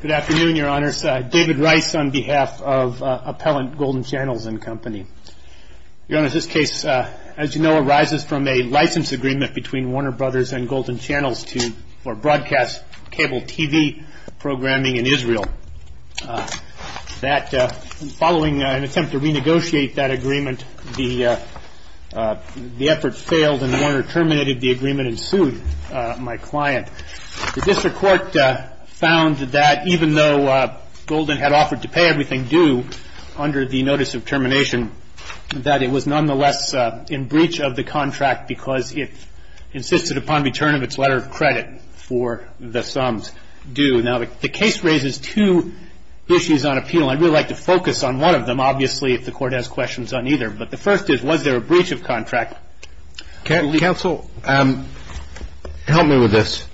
Good afternoon, Your Honors. David Rice on behalf of Appellant Golden Channels and Company. Your Honors, this case, as you know, arises from a license agreement between Warner Bros. and Golden Channels for broadcast cable TV programming in Israel. Following an attempt to renegotiate that agreement, the effort failed and Warner terminated the agreement and sued my client. The district court found that even though Golden had offered to pay everything due under the notice of termination, that it was nonetheless in breach of the contract because it insisted upon return of its letter of credit for the sums due. Now, the case raises two issues on appeal. I'd really like to focus on one of them, obviously, if the court has questions on either. But the first is, was there a breach of contract? Counsel, help me with this.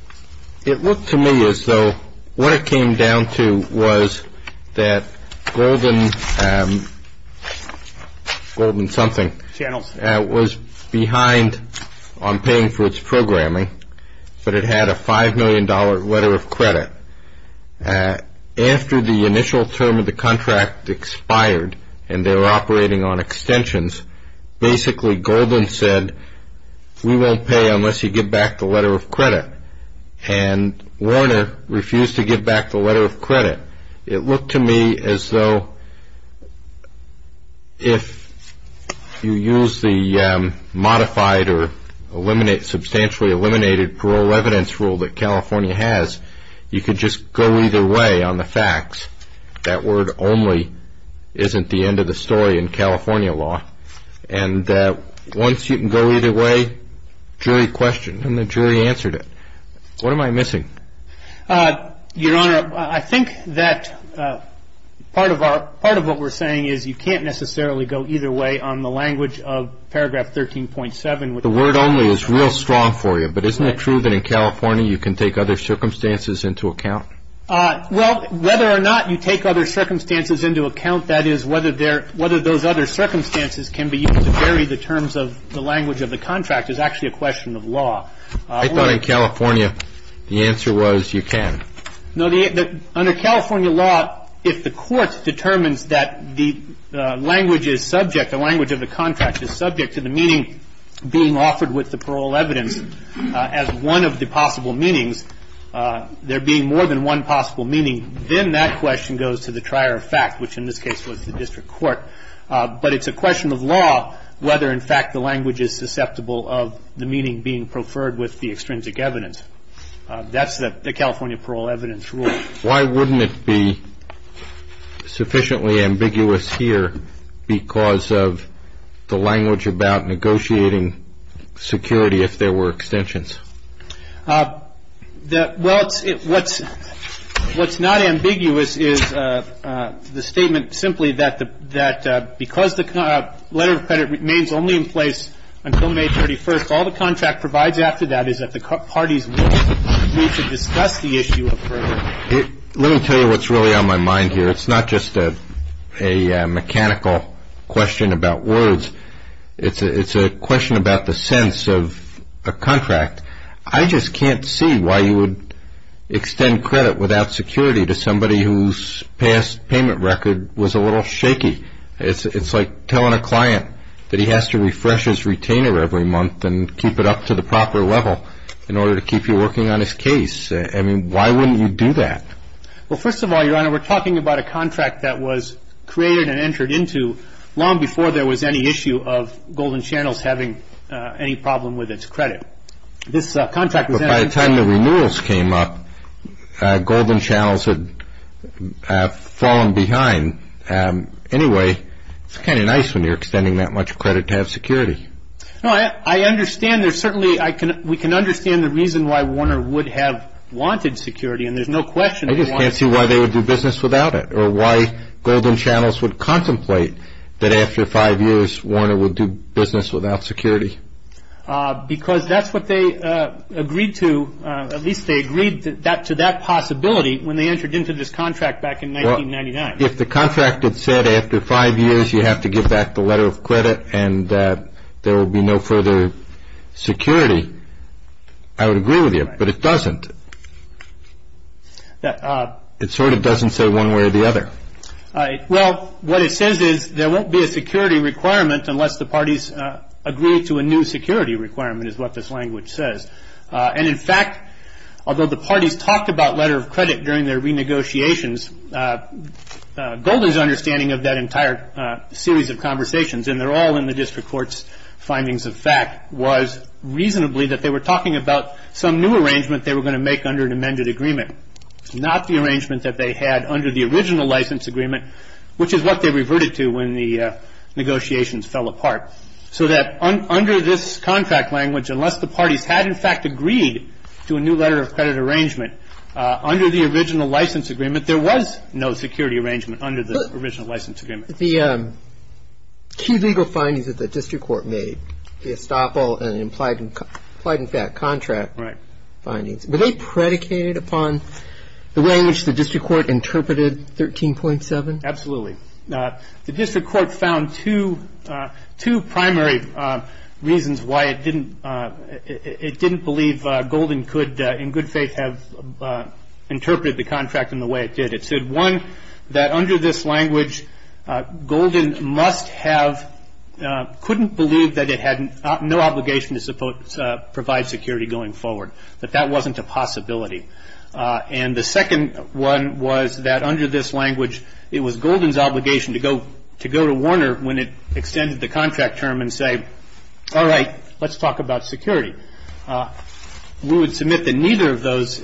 It looked to me as though what it came down to was that Golden something was behind on paying for its programming, but it had a $5 million letter of credit. After the initial term of the contract expired and they were operating on extensions, basically Golden said, we won't pay unless you give back the letter of credit. And Warner refused to give back the letter of credit. It looked to me as though if you use the modified or substantially eliminated parole evidence rule that California has, you could just go either way on the facts that word only isn't the end of the story in California law. And once you can go either way, jury questioned and the jury answered it. What am I missing? Your Honor, I think that part of what we're saying is you can't necessarily go either way on the language of paragraph 13.7. The word only is real strong for you. But isn't it true that in California you can take other circumstances into account? Well, whether or not you take other circumstances into account, that is, whether those other circumstances can be used to vary the terms of the language of the contract is actually a question of law. I thought in California the answer was you can. Under California law, if the court determines that the language is subject, being offered with the parole evidence as one of the possible meanings, there being more than one possible meaning, then that question goes to the trier of fact, which in this case was the district court. But it's a question of law whether, in fact, the language is susceptible of the meaning being preferred with the extrinsic evidence. That's the California parole evidence rule. Why wouldn't it be sufficiently ambiguous here because of the language about negotiating security if there were extensions? Well, what's not ambiguous is the statement simply that because the letter of credit remains only in place until May 31st, so all the contract provides after that is that the parties need to discuss the issue further. Let me tell you what's really on my mind here. It's not just a mechanical question about words. It's a question about the sense of a contract. I just can't see why you would extend credit without security to somebody whose past payment record was a little shaky. It's like telling a client that he has to refresh his retainer every month and keep it up to the proper level in order to keep you working on his case. I mean, why wouldn't you do that? Well, first of all, Your Honor, we're talking about a contract that was created and entered into long before there was any issue of Golden Channels having any problem with its credit. But by the time the renewals came up, Golden Channels had fallen behind. Anyway, it's kind of nice when you're extending that much credit to have security. No, I understand. We can understand the reason why Warner would have wanted security, and there's no question. I just can't see why they would do business without it or why Golden Channels would contemplate that after five years Warner would do business without security. Because that's what they agreed to. At least they agreed to that possibility when they entered into this contract back in 1999. If the contract had said after five years you have to give back the letter of credit and there will be no further security, I would agree with you. But it doesn't. It sort of doesn't say one way or the other. Well, what it says is there won't be a security requirement unless the parties agree to a new security requirement is what this language says. And in fact, although the parties talked about letter of credit during their renegotiations, Golden's understanding of that entire series of conversations, and they're all in the district court's findings of fact, was reasonably that they were talking about some new arrangement they were going to make under an amended agreement. Not the arrangement that they had under the original license agreement, which is what they reverted to when the negotiations fell apart. So that under this contract language, unless the parties had, in fact, agreed to a new letter of credit arrangement under the original license agreement, there was no security arrangement under the original license agreement. The key legal findings that the district court made, the estoppel and implied in fact contract findings, were they predicated upon the way in which the district court interpreted 13.7? Absolutely. The district court found two primary reasons why it didn't believe Golden could, in good faith, have interpreted the contract in the way it did. It said, one, that under this language, Golden must have, couldn't believe that it had no obligation to provide security going forward. That that wasn't a possibility. And the second one was that under this language, it was Golden's obligation to go to Warner when it extended the contract term and say, all right, let's talk about security. We would submit that neither of those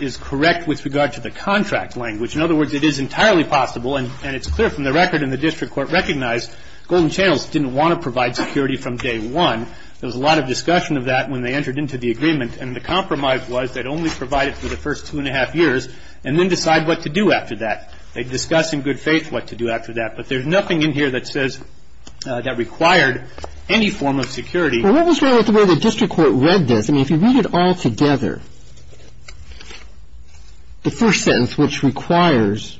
is correct with regard to the contract language. In other words, it is entirely possible and it's clear from the record and the district court recognized Golden Channels didn't want to provide security from day one. There was a lot of discussion of that when they entered into the agreement. And the compromise was they'd only provide it for the first two and a half years and then decide what to do after that. They'd discuss in good faith what to do after that. But there's nothing in here that says that required any form of security. Well, what was wrong with the way the district court read this? I mean, if you read it all together, the first sentence, which requires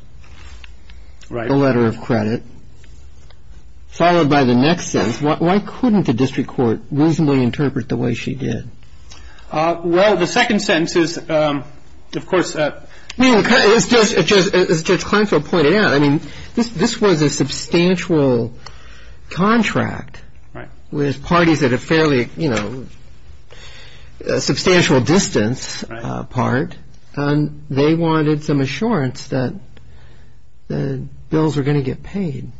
a letter of credit, followed by the next sentence, why couldn't the district court reasonably interpret the way she did? Well, the second sentence is, of course. I mean, as Judge Kleinfeld pointed out, I mean, this was a substantial contract. Right. With parties that are fairly, you know, substantial distance apart. And they wanted some assurance that the bills were going to get paid.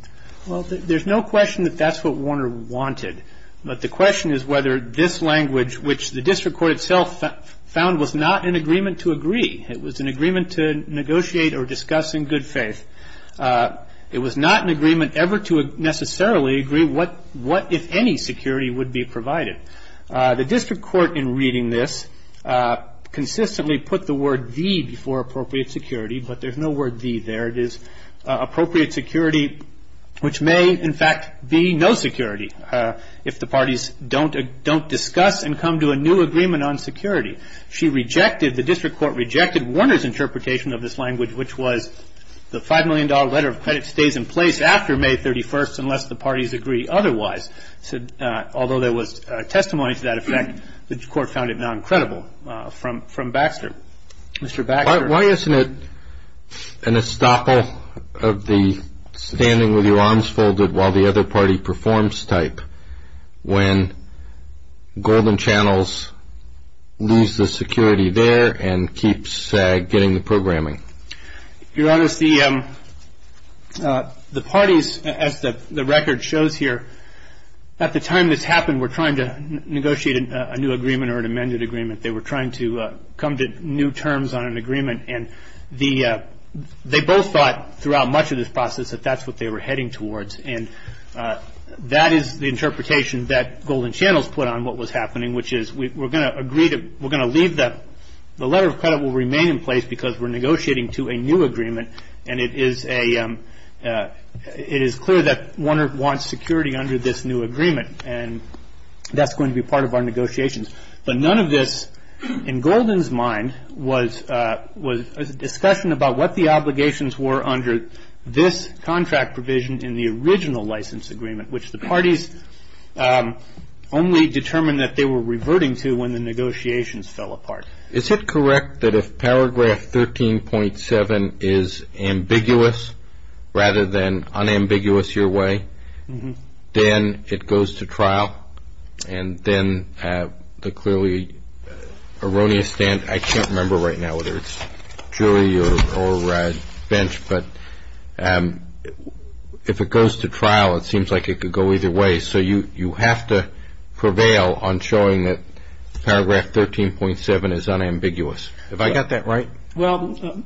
Well, there's no question that that's what Warner wanted. But the question is whether this language, which the district court itself found was not an agreement to agree. It was an agreement to negotiate or discuss in good faith. It was not an agreement ever to necessarily agree what, if any, security would be provided. The district court, in reading this, consistently put the word the before appropriate security. But there's no word the there. It is appropriate security, which may, in fact, be no security, if the parties don't discuss and come to a new agreement on security. She rejected, the district court rejected Warner's interpretation of this language, which was the $5 million letter of credit stays in place after May 31st unless the parties agree otherwise. Although there was testimony to that effect, the court found it non-credible from Baxter. Mr. Baxter. Why isn't it an estoppel of the standing with your arms folded while the other party performs type when Golden Channels lose the security there and keeps getting the programming? Your Honor, the parties, as the record shows here, at the time this happened were trying to negotiate a new agreement or an amended agreement. They were trying to come to new terms on an agreement. And they both thought throughout much of this process that that's what they were heading towards. And that is the interpretation that Golden Channels put on what was happening, which is we're going to agree that we're going to leave the letter of credit will remain in place because we're negotiating to a new agreement. And it is clear that Warner wants security under this new agreement. And that's going to be part of our negotiations. But none of this, in Golden's mind, was a discussion about what the obligations were under this contract provision in the original license agreement, which the parties only determined that they were reverting to when the negotiations fell apart. Is it correct that if paragraph 13.7 is ambiguous rather than unambiguous your way, then it goes to trial? And then the clearly erroneous stand, I can't remember right now whether it's jury or bench, but if it goes to trial, it seems like it could go either way. So you have to prevail on showing that paragraph 13.7 is unambiguous. Have I got that right? Well,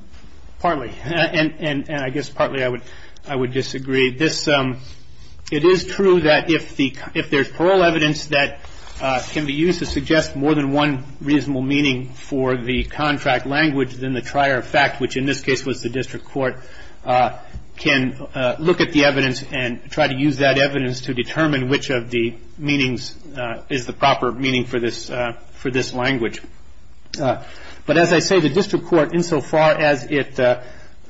partly. And I guess partly I would disagree. It is true that if there's parole evidence that can be used to suggest more than one reasonable meaning for the contract language, then the trier of fact, which in this case was the district court, can look at the evidence and try to use that evidence to determine which of the meanings is the proper meaning for this language. But as I say, the district court, insofar as it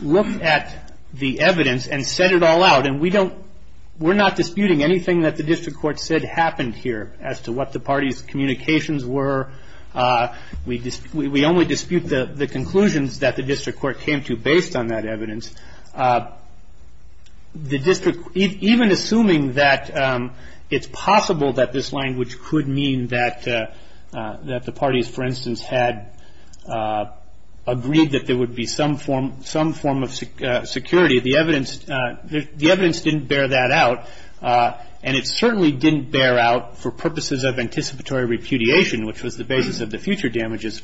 looked at the evidence and said it all out, and we don't we're not disputing anything that the district court said happened here as to what the parties' communications were. We only dispute the conclusions that the district court came to based on that evidence. The district, even assuming that it's possible that this language could mean that the parties, for instance, had agreed that there would be some form of security, the evidence didn't bear that out. And it certainly didn't bear out for purposes of anticipatory repudiation, which was the basis of the future damages,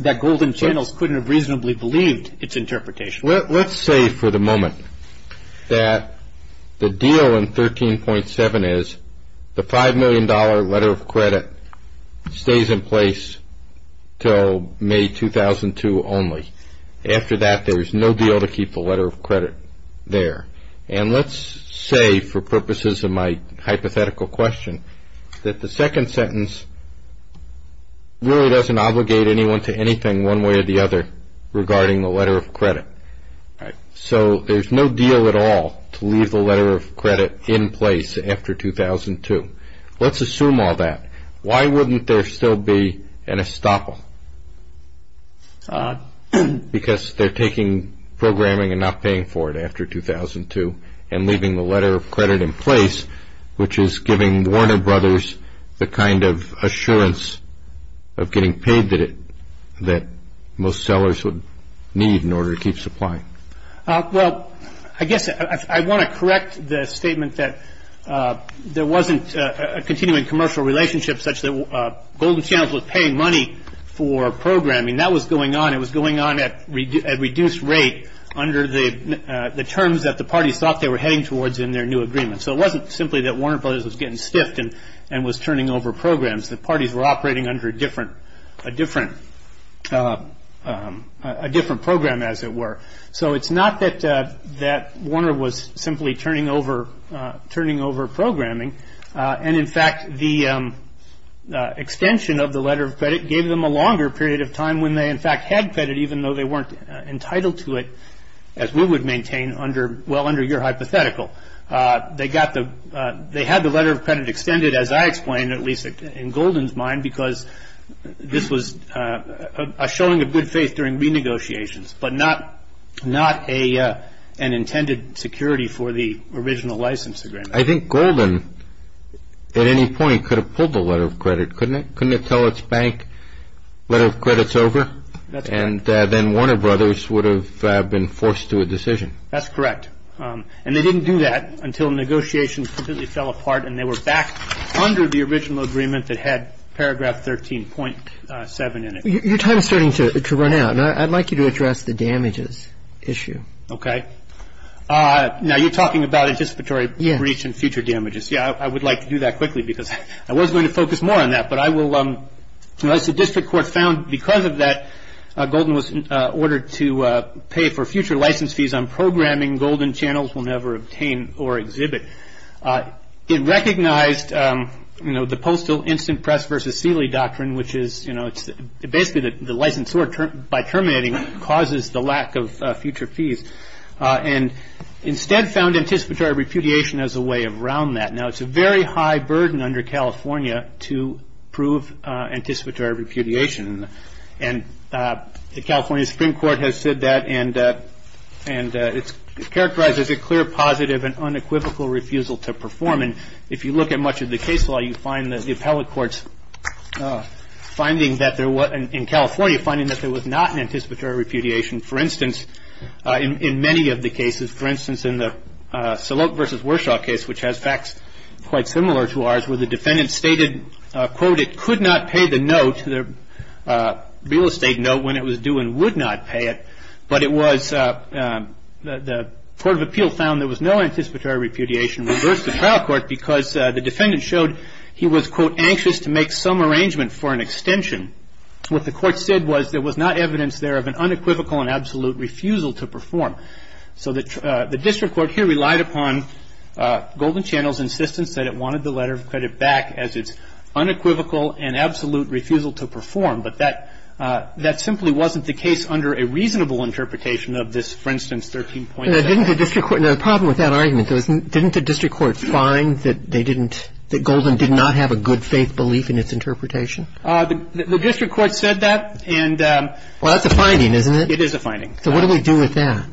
that Golden Channels couldn't have reasonably believed its interpretation. Let's say for the moment that the deal in 13.7 is the $5 million letter of credit stays in place until May 2002 only. After that, there is no deal to keep the letter of credit there. And let's say, for purposes of my hypothetical question, that the second sentence really doesn't obligate anyone to anything one way or the other regarding the letter of credit. So there's no deal at all to leave the letter of credit in place after 2002. Let's assume all that. Why wouldn't there still be an estoppel? Because they're taking programming and not paying for it after 2002 and leaving the letter of credit in place, which is giving Warner Brothers the kind of assurance of getting paid that most sellers would need in order to keep supplying. Well, I guess I want to correct the statement that there wasn't a continuing commercial relationship such that Golden Channels was paying money for programming. That was going on. It was going on at reduced rate under the terms that the parties thought they were heading towards in their new agreement. So it wasn't simply that Warner Brothers was getting stiffed and was turning over programs. The parties were operating under a different program, as it were. So it's not that Warner was simply turning over programming. And, in fact, the extension of the letter of credit gave them a longer period of time when they, in fact, had credit, even though they weren't entitled to it, as we would maintain under your hypothetical. They had the letter of credit extended, as I explained, at least in Golden's mind, because this was a showing of good faith during renegotiations, but not an intended security for the original license agreement. I think Golden, at any point, could have pulled the letter of credit, couldn't it? Couldn't it tell its bank, letter of credit's over? And then Warner Brothers would have been forced to a decision. That's correct. And they didn't do that until negotiations completely fell apart and they were back under the original agreement that had paragraph 13.7 in it. Your time is starting to run out, and I'd like you to address the damages issue. Okay. Now, you're talking about anticipatory breach and future damages. Yeah, I would like to do that quickly because I was going to focus more on that. But I will, as the district court found because of that, to pay for future license fees on programming, Golden Channels will never obtain or exhibit. It recognized the postal instant press versus Sealy doctrine, which is basically the licensure by terminating causes the lack of future fees, and instead found anticipatory repudiation as a way around that. Now, it's a very high burden under California to prove anticipatory repudiation. And the California Supreme Court has said that, and it characterizes a clear positive and unequivocal refusal to perform. And if you look at much of the case law, you find that the appellate courts finding that there was, in California, finding that there was not an anticipatory repudiation. For instance, in many of the cases, for instance, in the Salote versus Warshaw case, which has facts quite similar to ours, where the defendant stated, quote, that it could not pay the note, the real estate note, when it was due and would not pay it. But it was, the court of appeal found there was no anticipatory repudiation, reversed the trial court because the defendant showed he was, quote, anxious to make some arrangement for an extension. What the court said was there was not evidence there of an unequivocal and absolute refusal to perform. So the district court here relied upon Golden Channels' insistence that it wanted the letter of credit back as its unequivocal and absolute refusal to perform. But that simply wasn't the case under a reasonable interpretation of this, for instance, 13.7. Roberts. Didn't the district court, the problem with that argument, didn't the district court find that they didn't, that Golden did not have a good faith belief in its interpretation? The district court said that, and. Well, that's a finding, isn't it? It is a finding. So what do we do with that?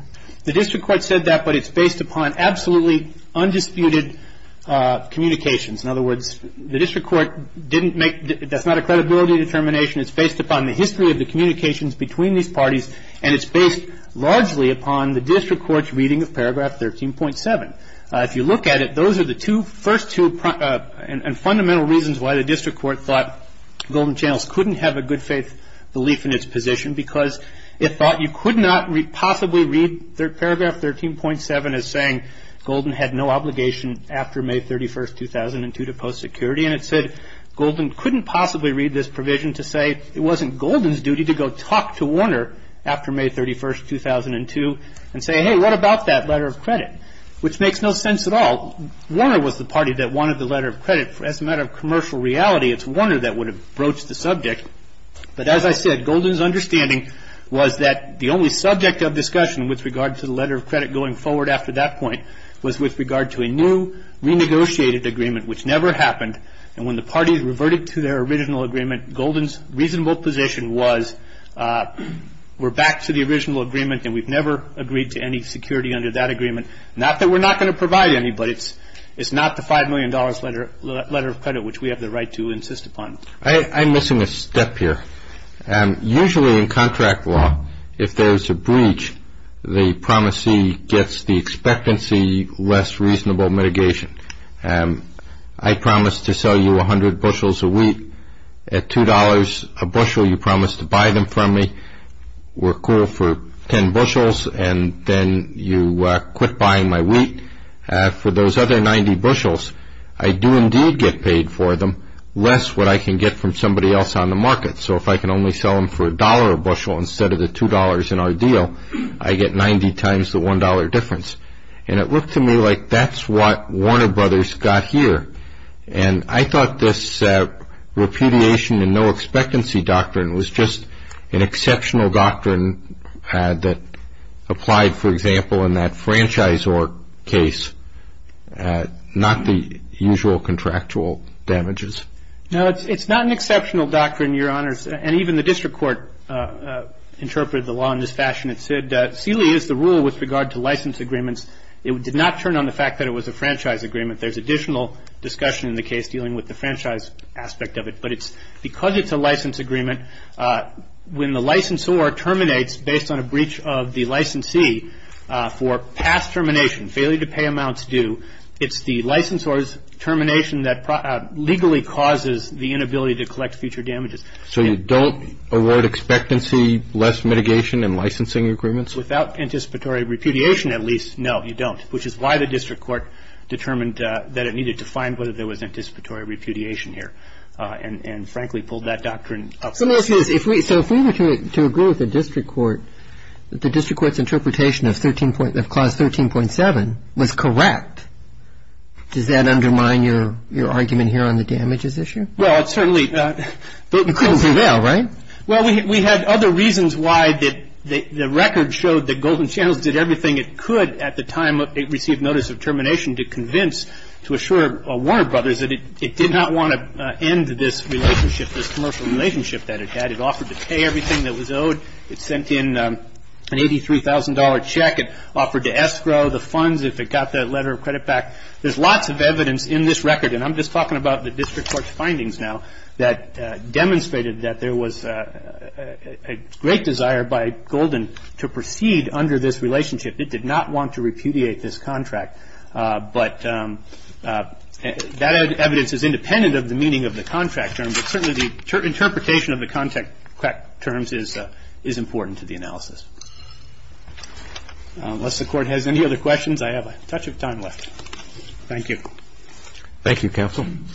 The district court said that, but it's based upon absolutely undisputed communications. In other words, the district court didn't make, that's not a credibility determination. It's based upon the history of the communications between these parties, and it's based largely upon the district court's reading of paragraph 13.7. If you look at it, those are the two, first two, and fundamental reasons why the district court thought Golden Channels couldn't have a good faith belief in its position, because it thought you could not possibly read paragraph 13.7 as saying Golden had no obligation after May 31st, 2002, to post security. And it said Golden couldn't possibly read this provision to say it wasn't Golden's duty to go talk to Warner after May 31st, 2002, and say, hey, what about that letter of credit? Which makes no sense at all. Warner was the party that wanted the letter of credit. As a matter of commercial reality, it's Warner that would have broached the subject. But as I said, Golden's understanding was that the only subject of discussion with regard to the letter of credit going forward after that point was with regard to a new renegotiated agreement, which never happened. And when the parties reverted to their original agreement, Golden's reasonable position was, we're back to the original agreement and we've never agreed to any security under that agreement. Not that we're not going to provide any, but it's not the $5 million letter of credit which we have the right to insist upon. I'm missing a step here. Usually in contract law, if there's a breach, the promisee gets the expectancy less reasonable mitigation. I promise to sell you 100 bushels of wheat at $2 a bushel. You promise to buy them from me. We're cool for 10 bushels, and then you quit buying my wheat. For those other 90 bushels, I do indeed get paid for them less what I can get from somebody else on the market. So if I can only sell them for $1 a bushel instead of the $2 in our deal, I get 90 times the $1 difference. And it looked to me like that's what Warner Brothers got here. And I thought this repudiation and no expectancy doctrine was just an exceptional doctrine that applied, for example, in that franchisor case, not the usual contractual damages. No, it's not an exceptional doctrine, Your Honors. And even the district court interpreted the law in this fashion. It said Sealy is the rule with regard to license agreements. It did not turn on the fact that it was a franchise agreement. There's additional discussion in the case dealing with the franchise aspect of it. But because it's a license agreement, when the licensor terminates based on a breach of the licensee for past termination, failure to pay amounts due, it's the licensor's termination that legally causes the inability to collect future damages. So you don't avoid expectancy, less mitigation, and licensing agreements? Without anticipatory repudiation, at least, no, you don't, which is why the district court determined that it needed to find whether there was anticipatory repudiation here. And, frankly, pulled that doctrine up. So if we were to agree with the district court that the district court's interpretation of clause 13.7 was correct, does that undermine your argument here on the damages issue? Well, certainly. But you couldn't do that, right? Well, we had other reasons why the record showed that Golden Channels did everything it could at the time it received notice of termination to convince, to assure Warner Brothers that it did not want to end this relationship, this commercial relationship that it had. It offered to pay everything that was owed. It sent in an $83,000 check. It offered to escrow the funds if it got that letter of credit back. There's lots of evidence in this record, and I'm just talking about the district court's findings now, that demonstrated that there was a great desire by Golden to proceed under this relationship. It did not want to repudiate this contract. But that evidence is independent of the meaning of the contract terms, but certainly the interpretation of the contract terms is important to the analysis. Unless the Court has any other questions, I have a touch of time left. Thank you. Thank you, counsel. Thank you.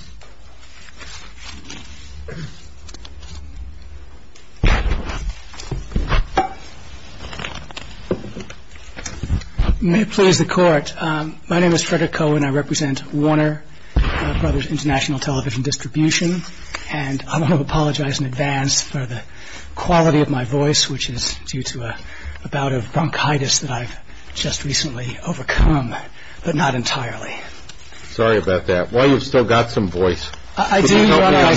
May it please the Court, my name is Frederick Cohen. I represent Warner Brothers International Television Distribution, and I want to apologize in advance for the quality of my voice, which is due to a bout of bronchitis that I've just recently overcome, but not entirely. Sorry about that. While you've still got some voice, could you help me on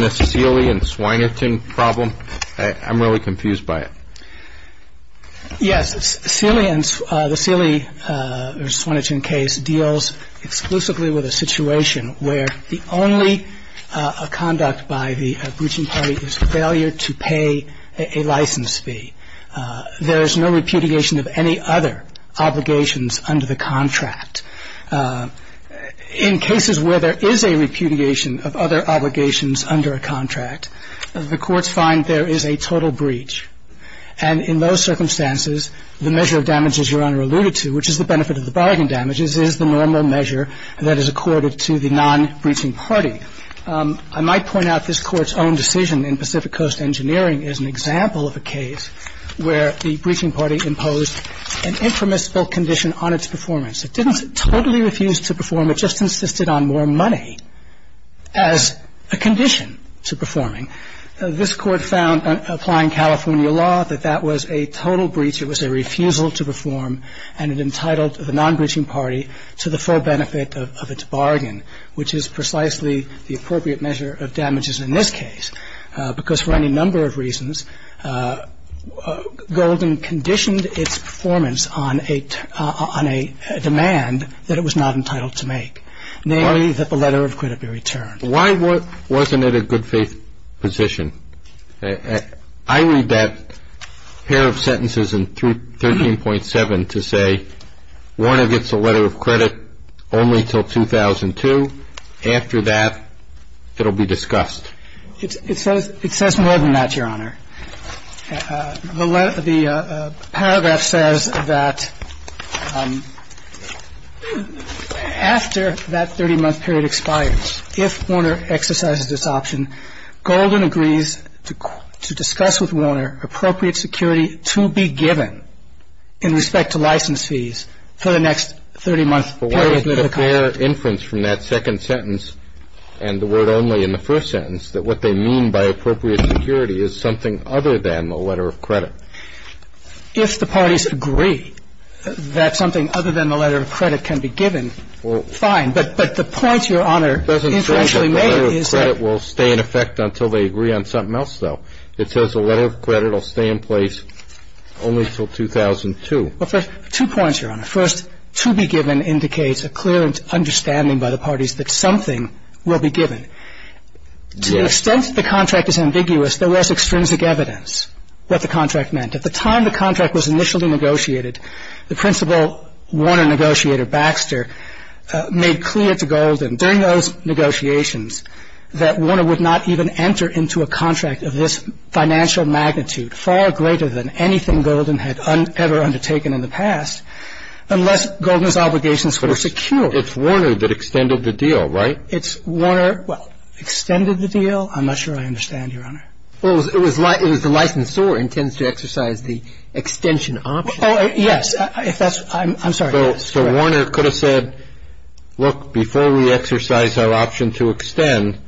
this Seeley and Swinerton problem? I'm really confused by it. Yes. Seeley and the Seeley or Swinerton case deals exclusively with a situation where the only conduct by the breaching party is failure to pay a license fee. There is no repudiation of any other obligations under the contract. In cases where there is a repudiation of other obligations under a contract, the courts find there is a total breach. And in those circumstances, the measure of damages Your Honor alluded to, which is the benefit of the bargain damages, is the normal measure that is accorded to the non-breaching party. I might point out this Court's own decision in Pacific Coast Engineering is an example of a case where the breaching party imposed an intramuscular condition on its performance. It didn't totally refuse to perform. It just insisted on more money as a condition to performing. This Court found, applying California law, that that was a total breach. It was a refusal to perform, and it entitled the non-breaching party to the full benefit of its bargain, which is precisely the appropriate measure of damages in this case. Because for any number of reasons, Golden conditioned its performance on a demand that it was not entitled to make, namely that the letter of credit be returned. Why wasn't it a good faith position? I read that pair of sentences in 13.7 to say Warner gets a letter of credit only until 2002. After that, it will be discussed. It says more than that, Your Honor. The paragraph says that after that 30-month period expires, if Warner exercises this option, Golden agrees to discuss with Warner appropriate security to be given in respect to license fees for the next 30-month period. But why isn't it a fair inference from that second sentence and the word only in the first sentence that what they mean by appropriate security is something other than the letter of credit? If the parties agree that something other than the letter of credit can be given, fine. But the point, Your Honor, is that the letter of credit will stay in effect until they agree on something else, though. It says the letter of credit will stay in place only until 2002. Two points, Your Honor. First, to be given indicates a clear understanding by the parties that something will be given. To the extent the contract is ambiguous, there was extrinsic evidence what the contract meant. At the time the contract was initially negotiated, the principal Warner negotiator, Baxter, made clear to Golden during those negotiations that Warner would not even enter into a contract of this financial magnitude, far greater than anything Golden had ever undertaken in the past, unless Golden's obligations were secure. But it's Warner that extended the deal, right? It's Warner, well, extended the deal? I'm not sure I understand, Your Honor. Well, it was the licensor intends to exercise the extension option. Oh, yes. I'm sorry. So Warner could have said, look, before we exercise our option to extend,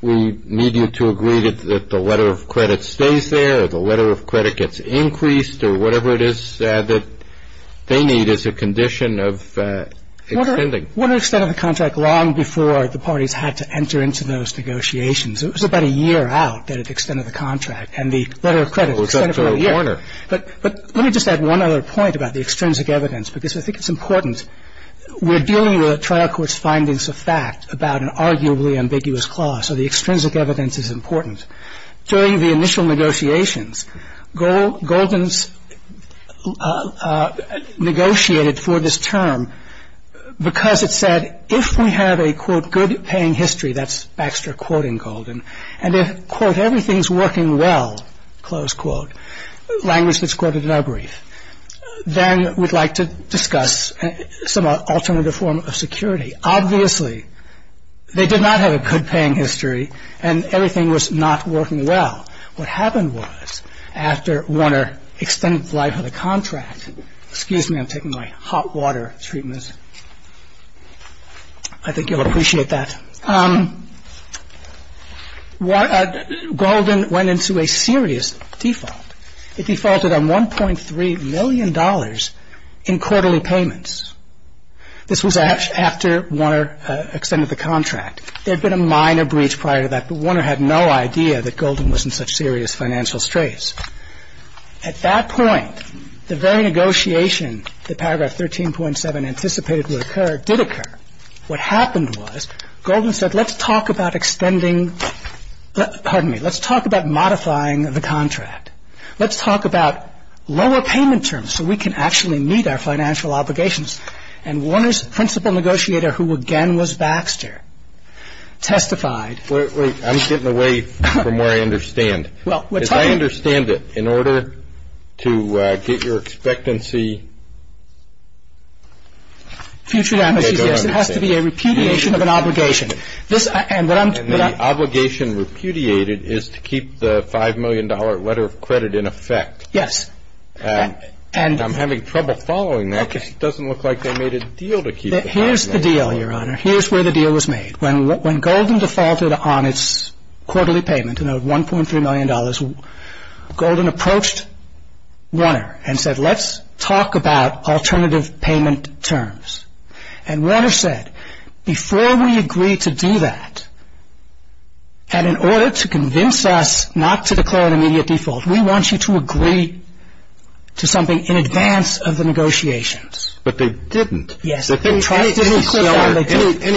we need you to agree that the letter of credit stays there, or the letter of credit gets increased, or whatever it is that they need as a condition of extending. Warner extended the contract long before the parties had to enter into those negotiations. It was about a year out that it extended the contract, and the letter of credit extended for a year. Well, it's up to Warner. But let me just add one other point about the extrinsic evidence, because I think it's important. We're dealing with a trial court's findings of fact about an arguably ambiguous clause, so the extrinsic evidence is important. During the initial negotiations, Golden's negotiated for this term because it said, if we have a, quote, good paying history, that's Baxter quoting Golden, and if, quote, everything's working well, close quote, language that's quoted in our brief, then we'd like to discuss some alternative form of security. Obviously, they did not have a good paying history, and everything was not working well. What happened was, after Warner extended the life of the contract, excuse me, I'm taking my hot water treatment. I think you'll appreciate that. Golden went into a serious default. It defaulted on $1.3 million in quarterly payments. This was after Warner extended the contract. There had been a minor breach prior to that, but Warner had no idea that Golden was in such serious financial straits. At that point, the very negotiation that paragraph 13.7 anticipated would occur did occur. What happened was, Golden said, let's talk about extending, pardon me, let's talk about modifying the contract. Let's talk about lower payment terms so we can actually meet our financial obligations. And Warner's principal negotiator, who again was Baxter, testified. Wait, wait. I'm getting away from where I understand. As I understand it, in order to get your expectancy future damages, it has to be a repudiation of an obligation. And the obligation repudiated is to keep the $5 million letter of credit in effect. Yes. I'm having trouble following that because it doesn't look like they made a deal to keep the $5 million. Here's the deal, Your Honor. Here's where the deal was made. When Golden defaulted on its quarterly payment, you know, $1.3 million, Golden approached Warner and said, let's talk about alternative payment terms. And Warner said, before we agree to do that, and in order to convince us not to declare an immediate default, we want you to agree to something in advance of the negotiations. But they didn't. Yes. Any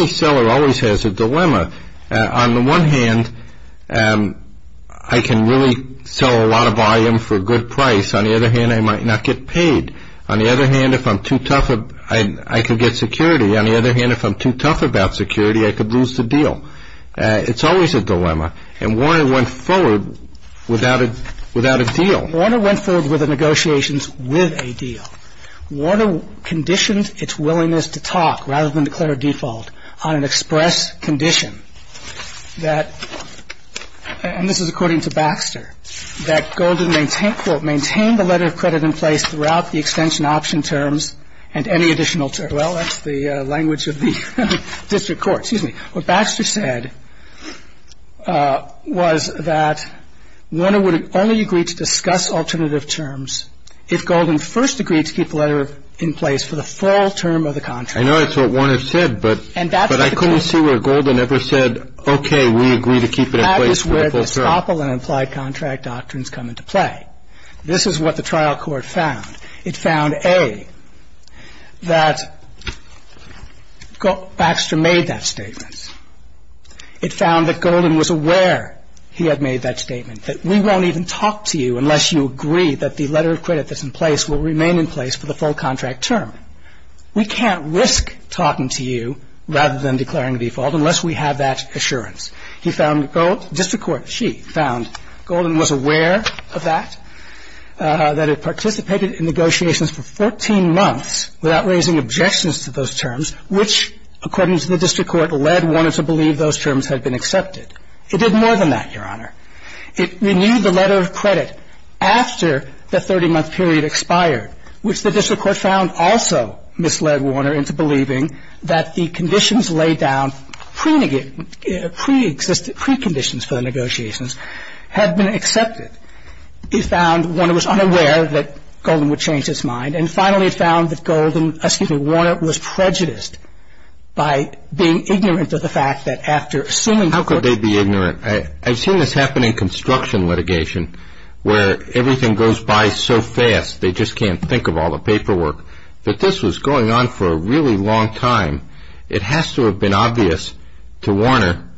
seller always has a dilemma. On the one hand, I can really sell a lot of volume for a good price. On the other hand, I might not get paid. On the other hand, if I'm too tough, I could get security. On the other hand, if I'm too tough about security, I could lose the deal. It's always a dilemma. And Warner went forward without a deal. Warner went forward with the negotiations with a deal. Warner conditioned its willingness to talk rather than declare a default on an express condition that, and this is according to Baxter, that Golden maintained, quote, maintained the letter of credit in place throughout the extension option terms and any additional terms. Well, that's the language of the district court. Excuse me. What Baxter said was that Warner would only agree to discuss alternative terms if Golden first agreed to keep the letter in place for the full term of the contract. I know that's what Warner said, but I couldn't see where Golden ever said, okay, we agree to keep it in place for the full term. That is where the Staple and implied contract doctrines come into play. This is what the trial court found. It found, A, that Baxter made that statement. It found that Golden was aware he had made that statement, that we won't even talk to you unless you agree that the letter of credit that's in place will remain in place for the full contract term. We can't risk talking to you rather than declaring a default unless we have that assurance. He found, District Court, she found Golden was aware of that, that it participated in negotiations for 14 months without raising objections to those terms, which, according to the district court, led Warner to believe those terms had been accepted. It did more than that, Your Honor. It renewed the letter of credit after the 30-month period expired, which the district court found also misled Warner into believing that the conditions laid down pre-conditions for the negotiations had been accepted. It found Warner was unaware that Golden would change his mind, and finally it found that Warner was prejudiced by being ignorant of the fact that after assuming the court How could they be ignorant? I've seen this happen in construction litigation where everything goes by so fast they just can't think of all the paperwork, that this was going on for a really long time. It has to have been obvious to Warner,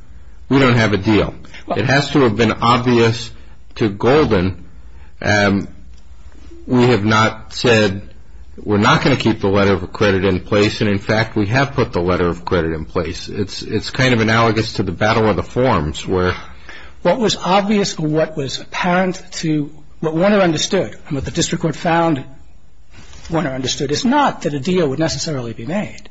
we don't have a deal. It has to have been obvious to Golden, we have not said, we're not going to keep the letter of credit in place, and in fact we have put the letter of credit in place. It's kind of analogous to the battle of the forms where What was obvious, what was apparent to, what Warner understood, and what the district court found Warner understood is not that a deal would necessarily be made,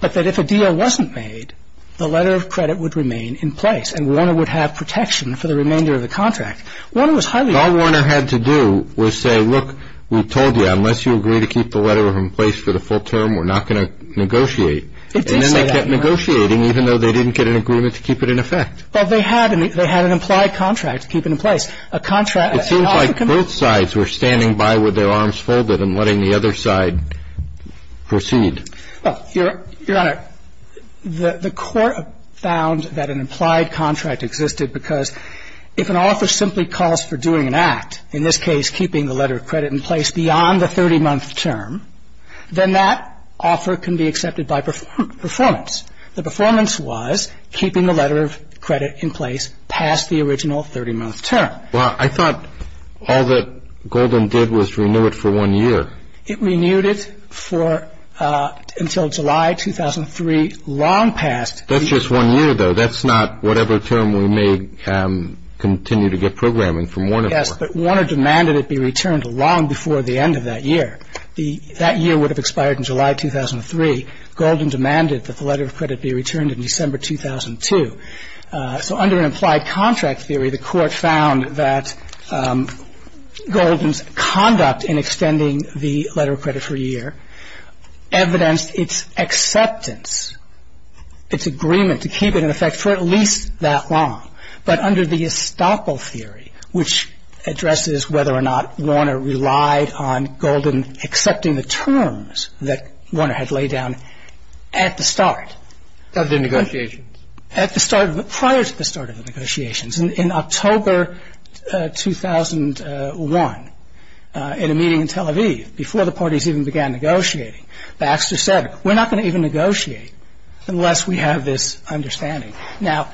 but that if a deal wasn't made, the letter of credit would remain in place, and Warner would have protection for the remainder of the contract. All Warner had to do was say, look, we told you, unless you agree to keep the letter in place for the full term, we're not going to negotiate. And then they kept negotiating, even though they didn't get an agreement to keep it in effect. Well, they had an implied contract to keep it in place. It seems like both sides were standing by with their arms folded and letting the other side proceed. Well, Your Honor, the court found that an implied contract existed because if an offer simply calls for doing an act, in this case, keeping the letter of credit in place beyond the 30-month term, then that offer can be accepted by performance. The performance was keeping the letter of credit in place past the original 30-month term. Well, I thought all that Golden did was renew it for one year. It renewed it for, until July 2003, long past. That's just one year, though. That's not whatever term we may continue to get programming from Warner for. Yes, but Warner demanded it be returned long before the end of that year. That year would have expired in July 2003. Golden demanded that the letter of credit be returned in December 2002. So under an implied contract theory, the court found that Golden's conduct in extending the letter of credit for a year evidenced its acceptance, its agreement to keep it in effect for at least that long. But under the estoppel theory, which addresses whether or not Warner relied on Golden accepting the terms that Warner had laid down at the start. Of the negotiations. Prior to the start of the negotiations. In October 2001, in a meeting in Tel Aviv, before the parties even began negotiating, Baxter said, we're not going to even negotiate unless we have this understanding. Now,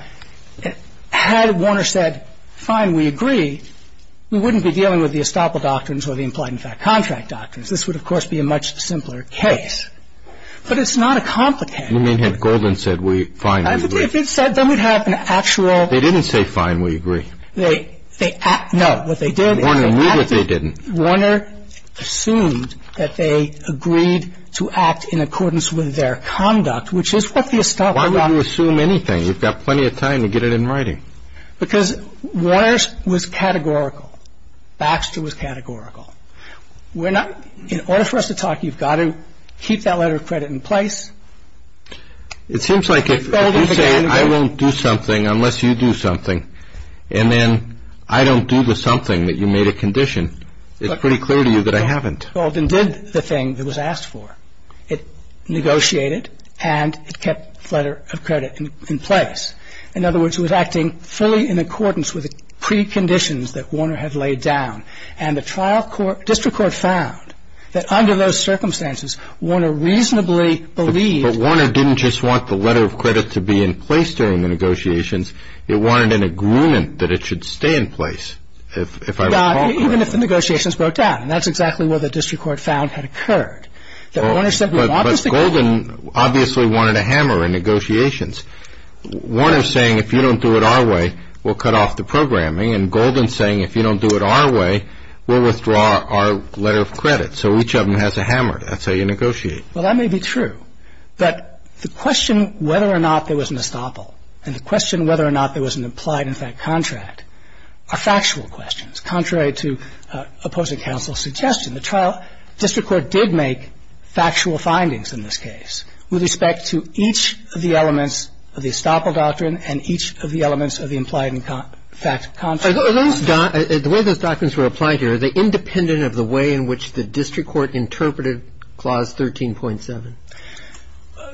had Warner said, fine, we agree, we wouldn't be dealing with the estoppel doctrines or the implied in fact contract doctrines. This would, of course, be a much simpler case. But it's not a complicated. You mean if Golden said, fine, we agree. If he said, then we'd have an actual. They didn't say, fine, we agree. No. What they did. Warner knew that they didn't. Warner assumed that they agreed to act in accordance with their conduct, which is what the estoppel doctrine. Why would you assume anything? You've got plenty of time to get it in writing. Because Warner was categorical. Baxter was categorical. In order for us to talk, you've got to keep that letter of credit in place. It seems like if you say, I won't do something unless you do something, and then I don't do the something that you made a condition, it's pretty clear to you that I haven't. Golden did the thing that was asked for. It negotiated, and it kept the letter of credit in place. In other words, it was acting fully in accordance with the preconditions that Warner had laid down. And the district court found that under those circumstances, Warner reasonably believed. But Warner didn't just want the letter of credit to be in place during the negotiations. It wanted an agreement that it should stay in place, if I recall correctly. Yeah, even if the negotiations broke down. And that's exactly what the district court found had occurred. That Warner said we want this to go on. But Golden obviously wanted a hammer in negotiations. Warner's saying if you don't do it our way, we'll cut off the programming. And Golden's saying if you don't do it our way, we'll withdraw our letter of credit. So each of them has a hammer. That's how you negotiate. Well, that may be true. But the question whether or not there was an estoppel and the question whether or not there was an implied, in fact, contract are factual questions. Contrary to opposing counsel's suggestion, the district court did make factual findings in this case with respect to each of the elements of the estoppel doctrine and each of the elements of the implied, in fact, contract. The way those doctrines were applied here, are they independent of the way in which the district court interpreted Clause 13.7?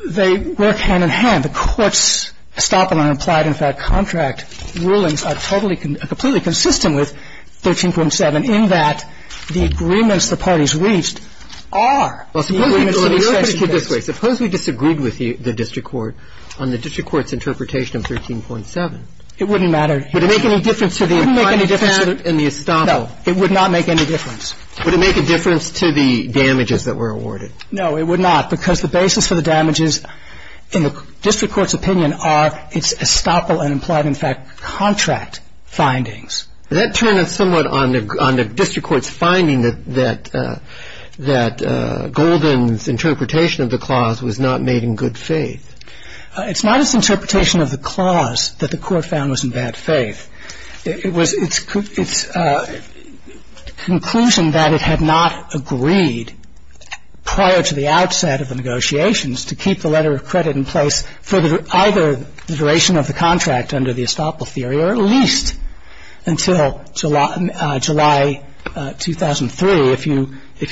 They work hand-in-hand. The Court's estoppel and implied, in fact, contract rulings are totally, completely consistent with 13.7, in that the agreements the parties reached are the agreements to be set in place. Suppose we disagreed with the district court on the district court's interpretation of 13.7. It wouldn't matter. Would it make any difference to the implied, in fact, and the estoppel? No, it would not make any difference. Would it make a difference to the damages that were awarded? No, it would not, because the basis for the damages, in the district court's opinion, are its estoppel and implied, in fact, contract findings. Does that turn us somewhat on the district court's finding that Golden's interpretation of the clause was not made in good faith? It's not its interpretation of the clause that the Court found was in bad faith. It was its conclusion that it had not agreed prior to the outset of the negotiations to keep the letter of credit in place for either the duration of the contract under the estoppel theory or at least until July 2003 if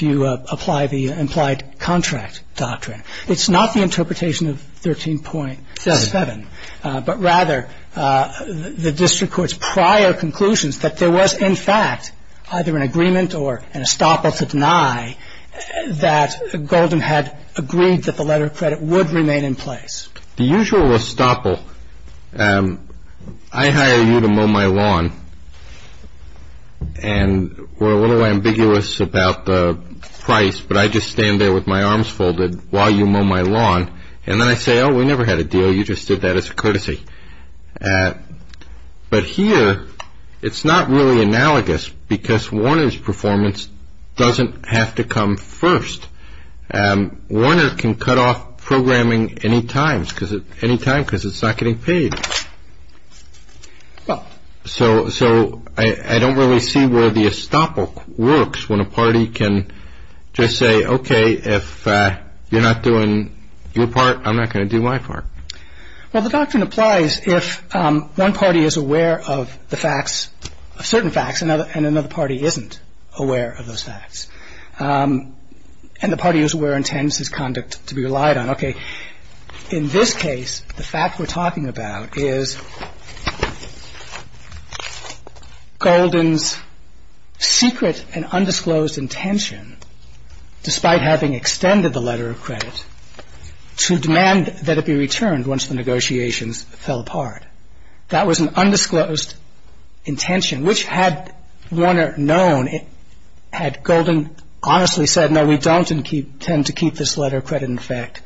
you apply the implied contract doctrine. It's not the interpretation of 13.7. But rather the district court's prior conclusions that there was, in fact, either an agreement or an estoppel to deny that Golden had agreed that the letter of credit would remain in place. The usual estoppel, I hire you to mow my lawn. And we're a little ambiguous about the price, but I just stand there with my arms folded while you mow my lawn. And then I say, oh, we never had a deal. You just did that as a courtesy. But here it's not really analogous because Warner's performance doesn't have to come first. Warner can cut off programming any time because it's not getting paid. So I don't really see where the estoppel works when a party can just say, okay, if you're not doing your part, I'm not going to do my part. Well, the doctrine applies if one party is aware of the facts, certain facts, and another party isn't aware of those facts. And the party who's aware intends his conduct to be relied on. Okay. In this case, the fact we're talking about is Golden's secret and undisclosed intention, despite having extended the letter of credit, to demand that it be returned once the negotiations fell apart. That was an undisclosed intention, which had Warner known, had Golden honestly said, no, we don't intend to keep this letter of credit in effect.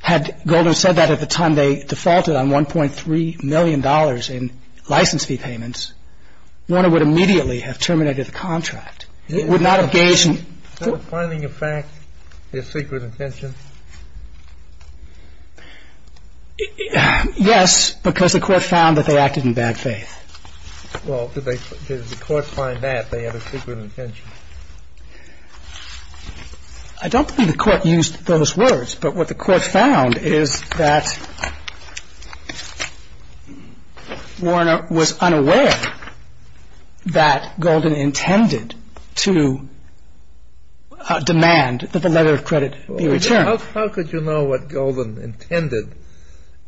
Had Golden said that at the time they defaulted on $1.3 million in license fee payments, Warner would immediately have terminated the contract. It would not have gauged. So the finding of facts is secret intention? Yes, because the court found that they acted in bad faith. Well, did the court find that they had a secret intention? I don't think the court used those words, but what the court found is that Warner was unaware that Golden intended to demand that the letter of credit be returned. How could you know what Golden intended?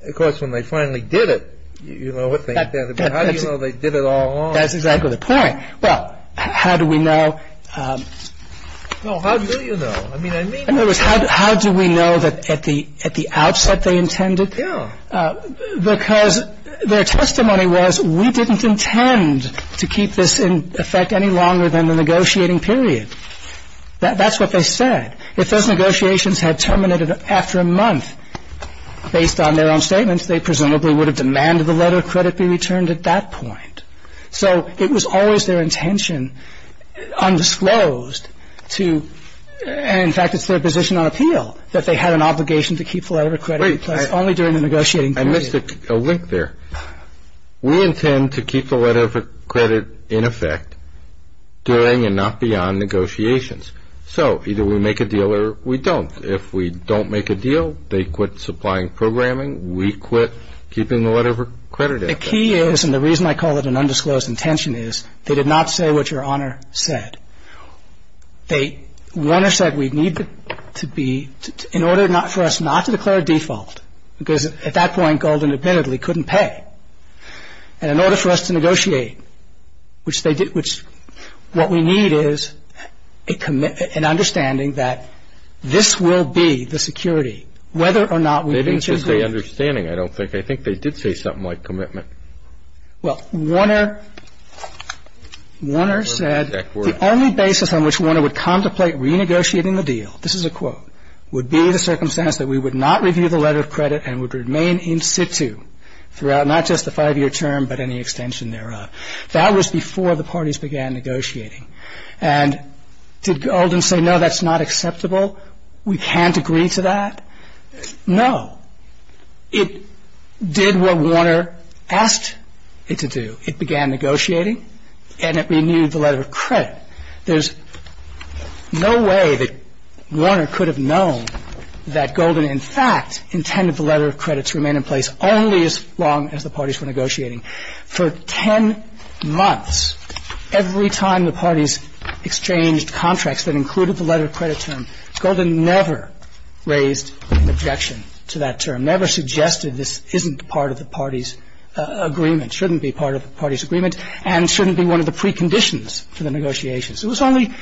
Of course, when they finally did it, you know what they intended. But how do you know they did it all along? That's exactly the point. Well, how do we know? No, how do you know? I mean, I mean... In other words, how do we know that at the outset they intended? Yeah. Because their testimony was, we didn't intend to keep this in effect any longer than the negotiating period. That's what they said. If those negotiations had terminated after a month based on their own statements, they presumably would have demanded the letter of credit be returned at that point. So it was always their intention, undisclosed, to – and, in fact, it's their position on appeal, that they had an obligation to keep the letter of credit in place only during the negotiating period. Wait. I missed a link there. We intend to keep the letter of credit in effect during and not beyond negotiations. So either we make a deal or we don't. If we don't make a deal, they quit supplying programming, we quit keeping the letter of credit in effect. The key is, and the reason I call it an undisclosed intention is, they did not say what Your Honor said. They – Warner said we need to be – in order for us not to declare a default, because at that point gold independently couldn't pay, and in order for us to negotiate, which they did – which – what we need is a – an understanding that this will be the security, whether or not we reach agreement. They didn't say understanding, I don't think. I think they did say something like commitment. Well, Warner – Warner said the only basis on which Warner would contemplate renegotiating the deal – this is a quote – would be the circumstance that we would not review the letter of credit and would remain in situ throughout not just the five-year term but any extension thereof. That was before the parties began negotiating. And did Golden say, no, that's not acceptable, we can't agree to that? No. It did what Warner asked it to do. It began negotiating, and it renewed the letter of credit. There's no way that Warner could have known that Golden, in fact, intended the letter of credit to remain in place only as long as the parties were negotiating. For 10 months, every time the parties exchanged contracts that included the letter of credit term, Golden never raised an objection to that term, never suggested this isn't part of the parties' agreement, shouldn't be part of the parties' agreement, and shouldn't be one of the preconditions for the negotiations. It was only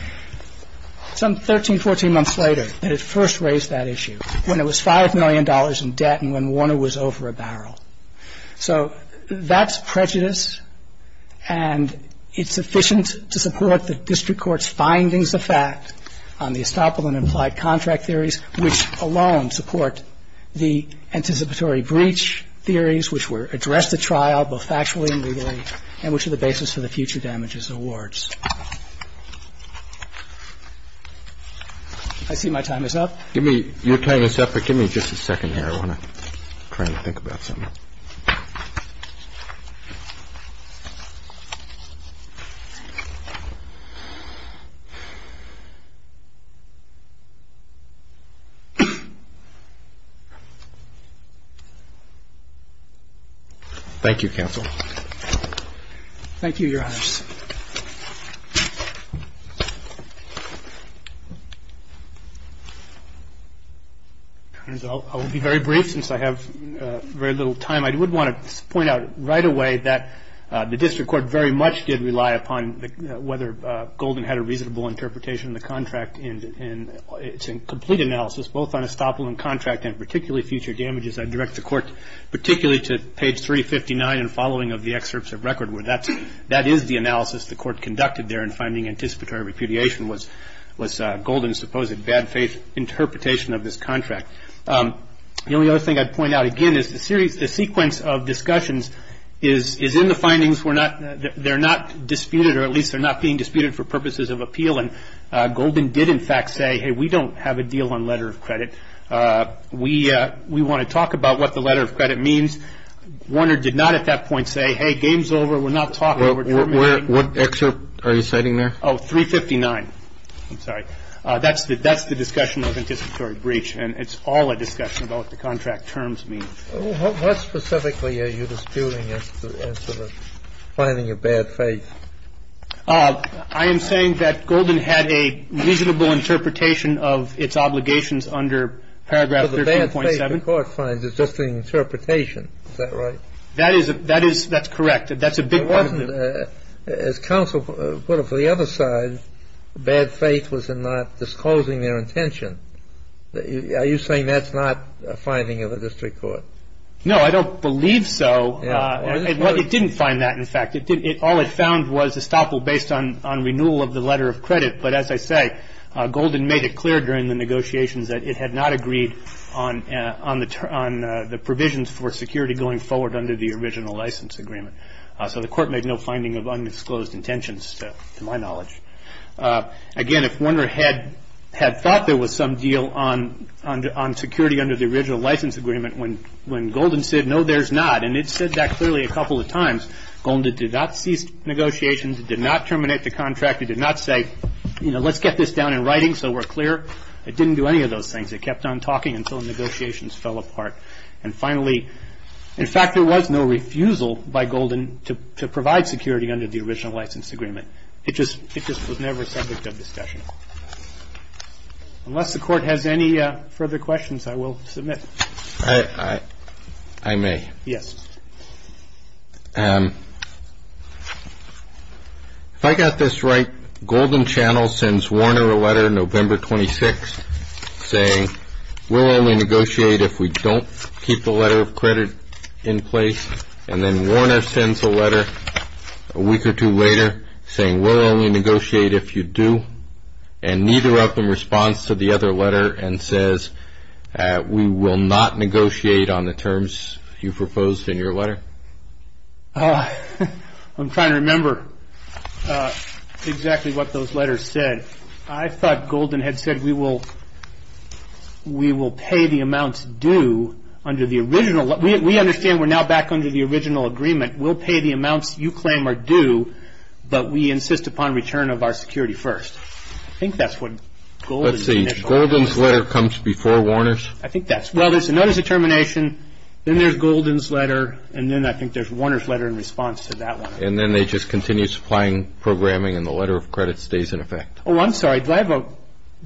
some 13, 14 months later that it first raised that issue, when it was $5 million in debt and when Warner was over a barrel. So that's prejudice, and it's sufficient to support the district court's findings of fact on the estoppel and implied contract theories, which alone support the anticipatory breach theories which were addressed at trial, both factually and legally, and which are the basis for the future damages awards. I see my time is up. Give me your time is up, but give me just a second here. I want to try and think about something. Thank you, counsel. Thank you, Your Honors. I will be very brief since I have very little time. I would want to point out right away that the district court very much did rely upon whether Golden had a reasonable interpretation of the contract in its complete analysis, both on estoppel and contract and particularly future damages. I direct the court particularly to page 359 and following of the excerpts of record, where that is the analysis the court conducted there in finding anticipatory repudiation was Golden's supposed bad faith interpretation of this contract. The only other thing I'd point out again is the sequence of discussions is in the findings. They're not disputed, or at least they're not being disputed for purposes of appeal, and Golden did in fact say, hey, we don't have a deal on letter of credit. We want to talk about what the letter of credit means. Warner did not at that point say, hey, game's over. We're not talking. What excerpt are you citing there? Oh, 359. I'm sorry. That's the discussion of anticipatory breach, and it's all a discussion about what the contract terms mean. What specifically are you disputing as to finding a bad faith? I am saying that Golden had a reasonable interpretation of its obligations under paragraph 13.7. But the bad faith the court finds is just an interpretation. Is that right? That is a – that is – that's correct. That's a big part of it. But wasn't – as counsel put it for the other side, bad faith was in not disclosing their intention. Are you saying that's not a finding of the district court? No, I don't believe so. It didn't find that, in fact. All it found was estoppel based on renewal of the letter of credit. But as I say, Golden made it clear during the negotiations that it had not agreed on the provisions for security going forward under the original license agreement. So the court made no finding of unexclosed intentions, to my knowledge. Again, if Warner had thought there was some deal on security under the original license agreement, when Golden said, no, there's not, and it said that clearly a couple of times, Golden did not cease negotiations. It did not terminate the contract. It did not say, you know, let's get this down in writing so we're clear. It didn't do any of those things. It kept on talking until the negotiations fell apart. And finally, in fact, there was no refusal by Golden to provide security under the original license agreement. It just was never subject of discussion. Unless the Court has any further questions, I will submit. I may. Yes. If I got this right, Golden Channel sends Warner a letter November 26th saying, we'll only negotiate if we don't keep the letter of credit in place. And then Warner sends a letter a week or two later saying, we'll only negotiate if you do. And neither of them responds to the other letter and says, we will not negotiate on the terms you proposed in your letter. I'm trying to remember exactly what those letters said. I thought Golden had said, we will pay the amounts due under the original. We understand we're now back under the original agreement. We'll pay the amounts you claim are due, but we insist upon return of our security first. I think that's what Golden said. Let's see. Golden's letter comes before Warner's? I think that's right. Well, there's a notice of termination. Then there's Golden's letter. And then I think there's Warner's letter in response to that one. And then they just continue supplying programming and the letter of credit stays in effect. Oh, I'm sorry. Do I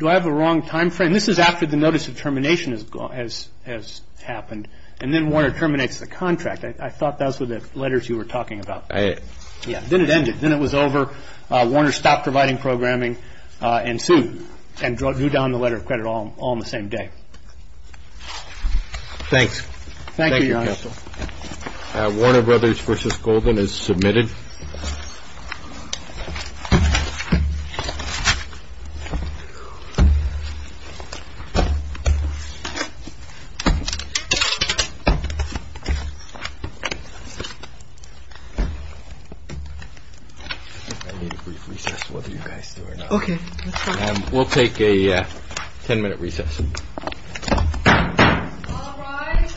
have a wrong time frame? This is after the notice of termination has happened. And then Warner terminates the contract. I thought those were the letters you were talking about. Yeah. Then it ended. Then it was over. Warner stopped providing programming and sued and drew down the letter of credit all on the same day. Thanks. Warner Brothers v. Golden is submitted. We'll take a ten-minute recess. All rise. We'll start the ten-minute recess in ten minutes. Sorry. Go ahead. No, no.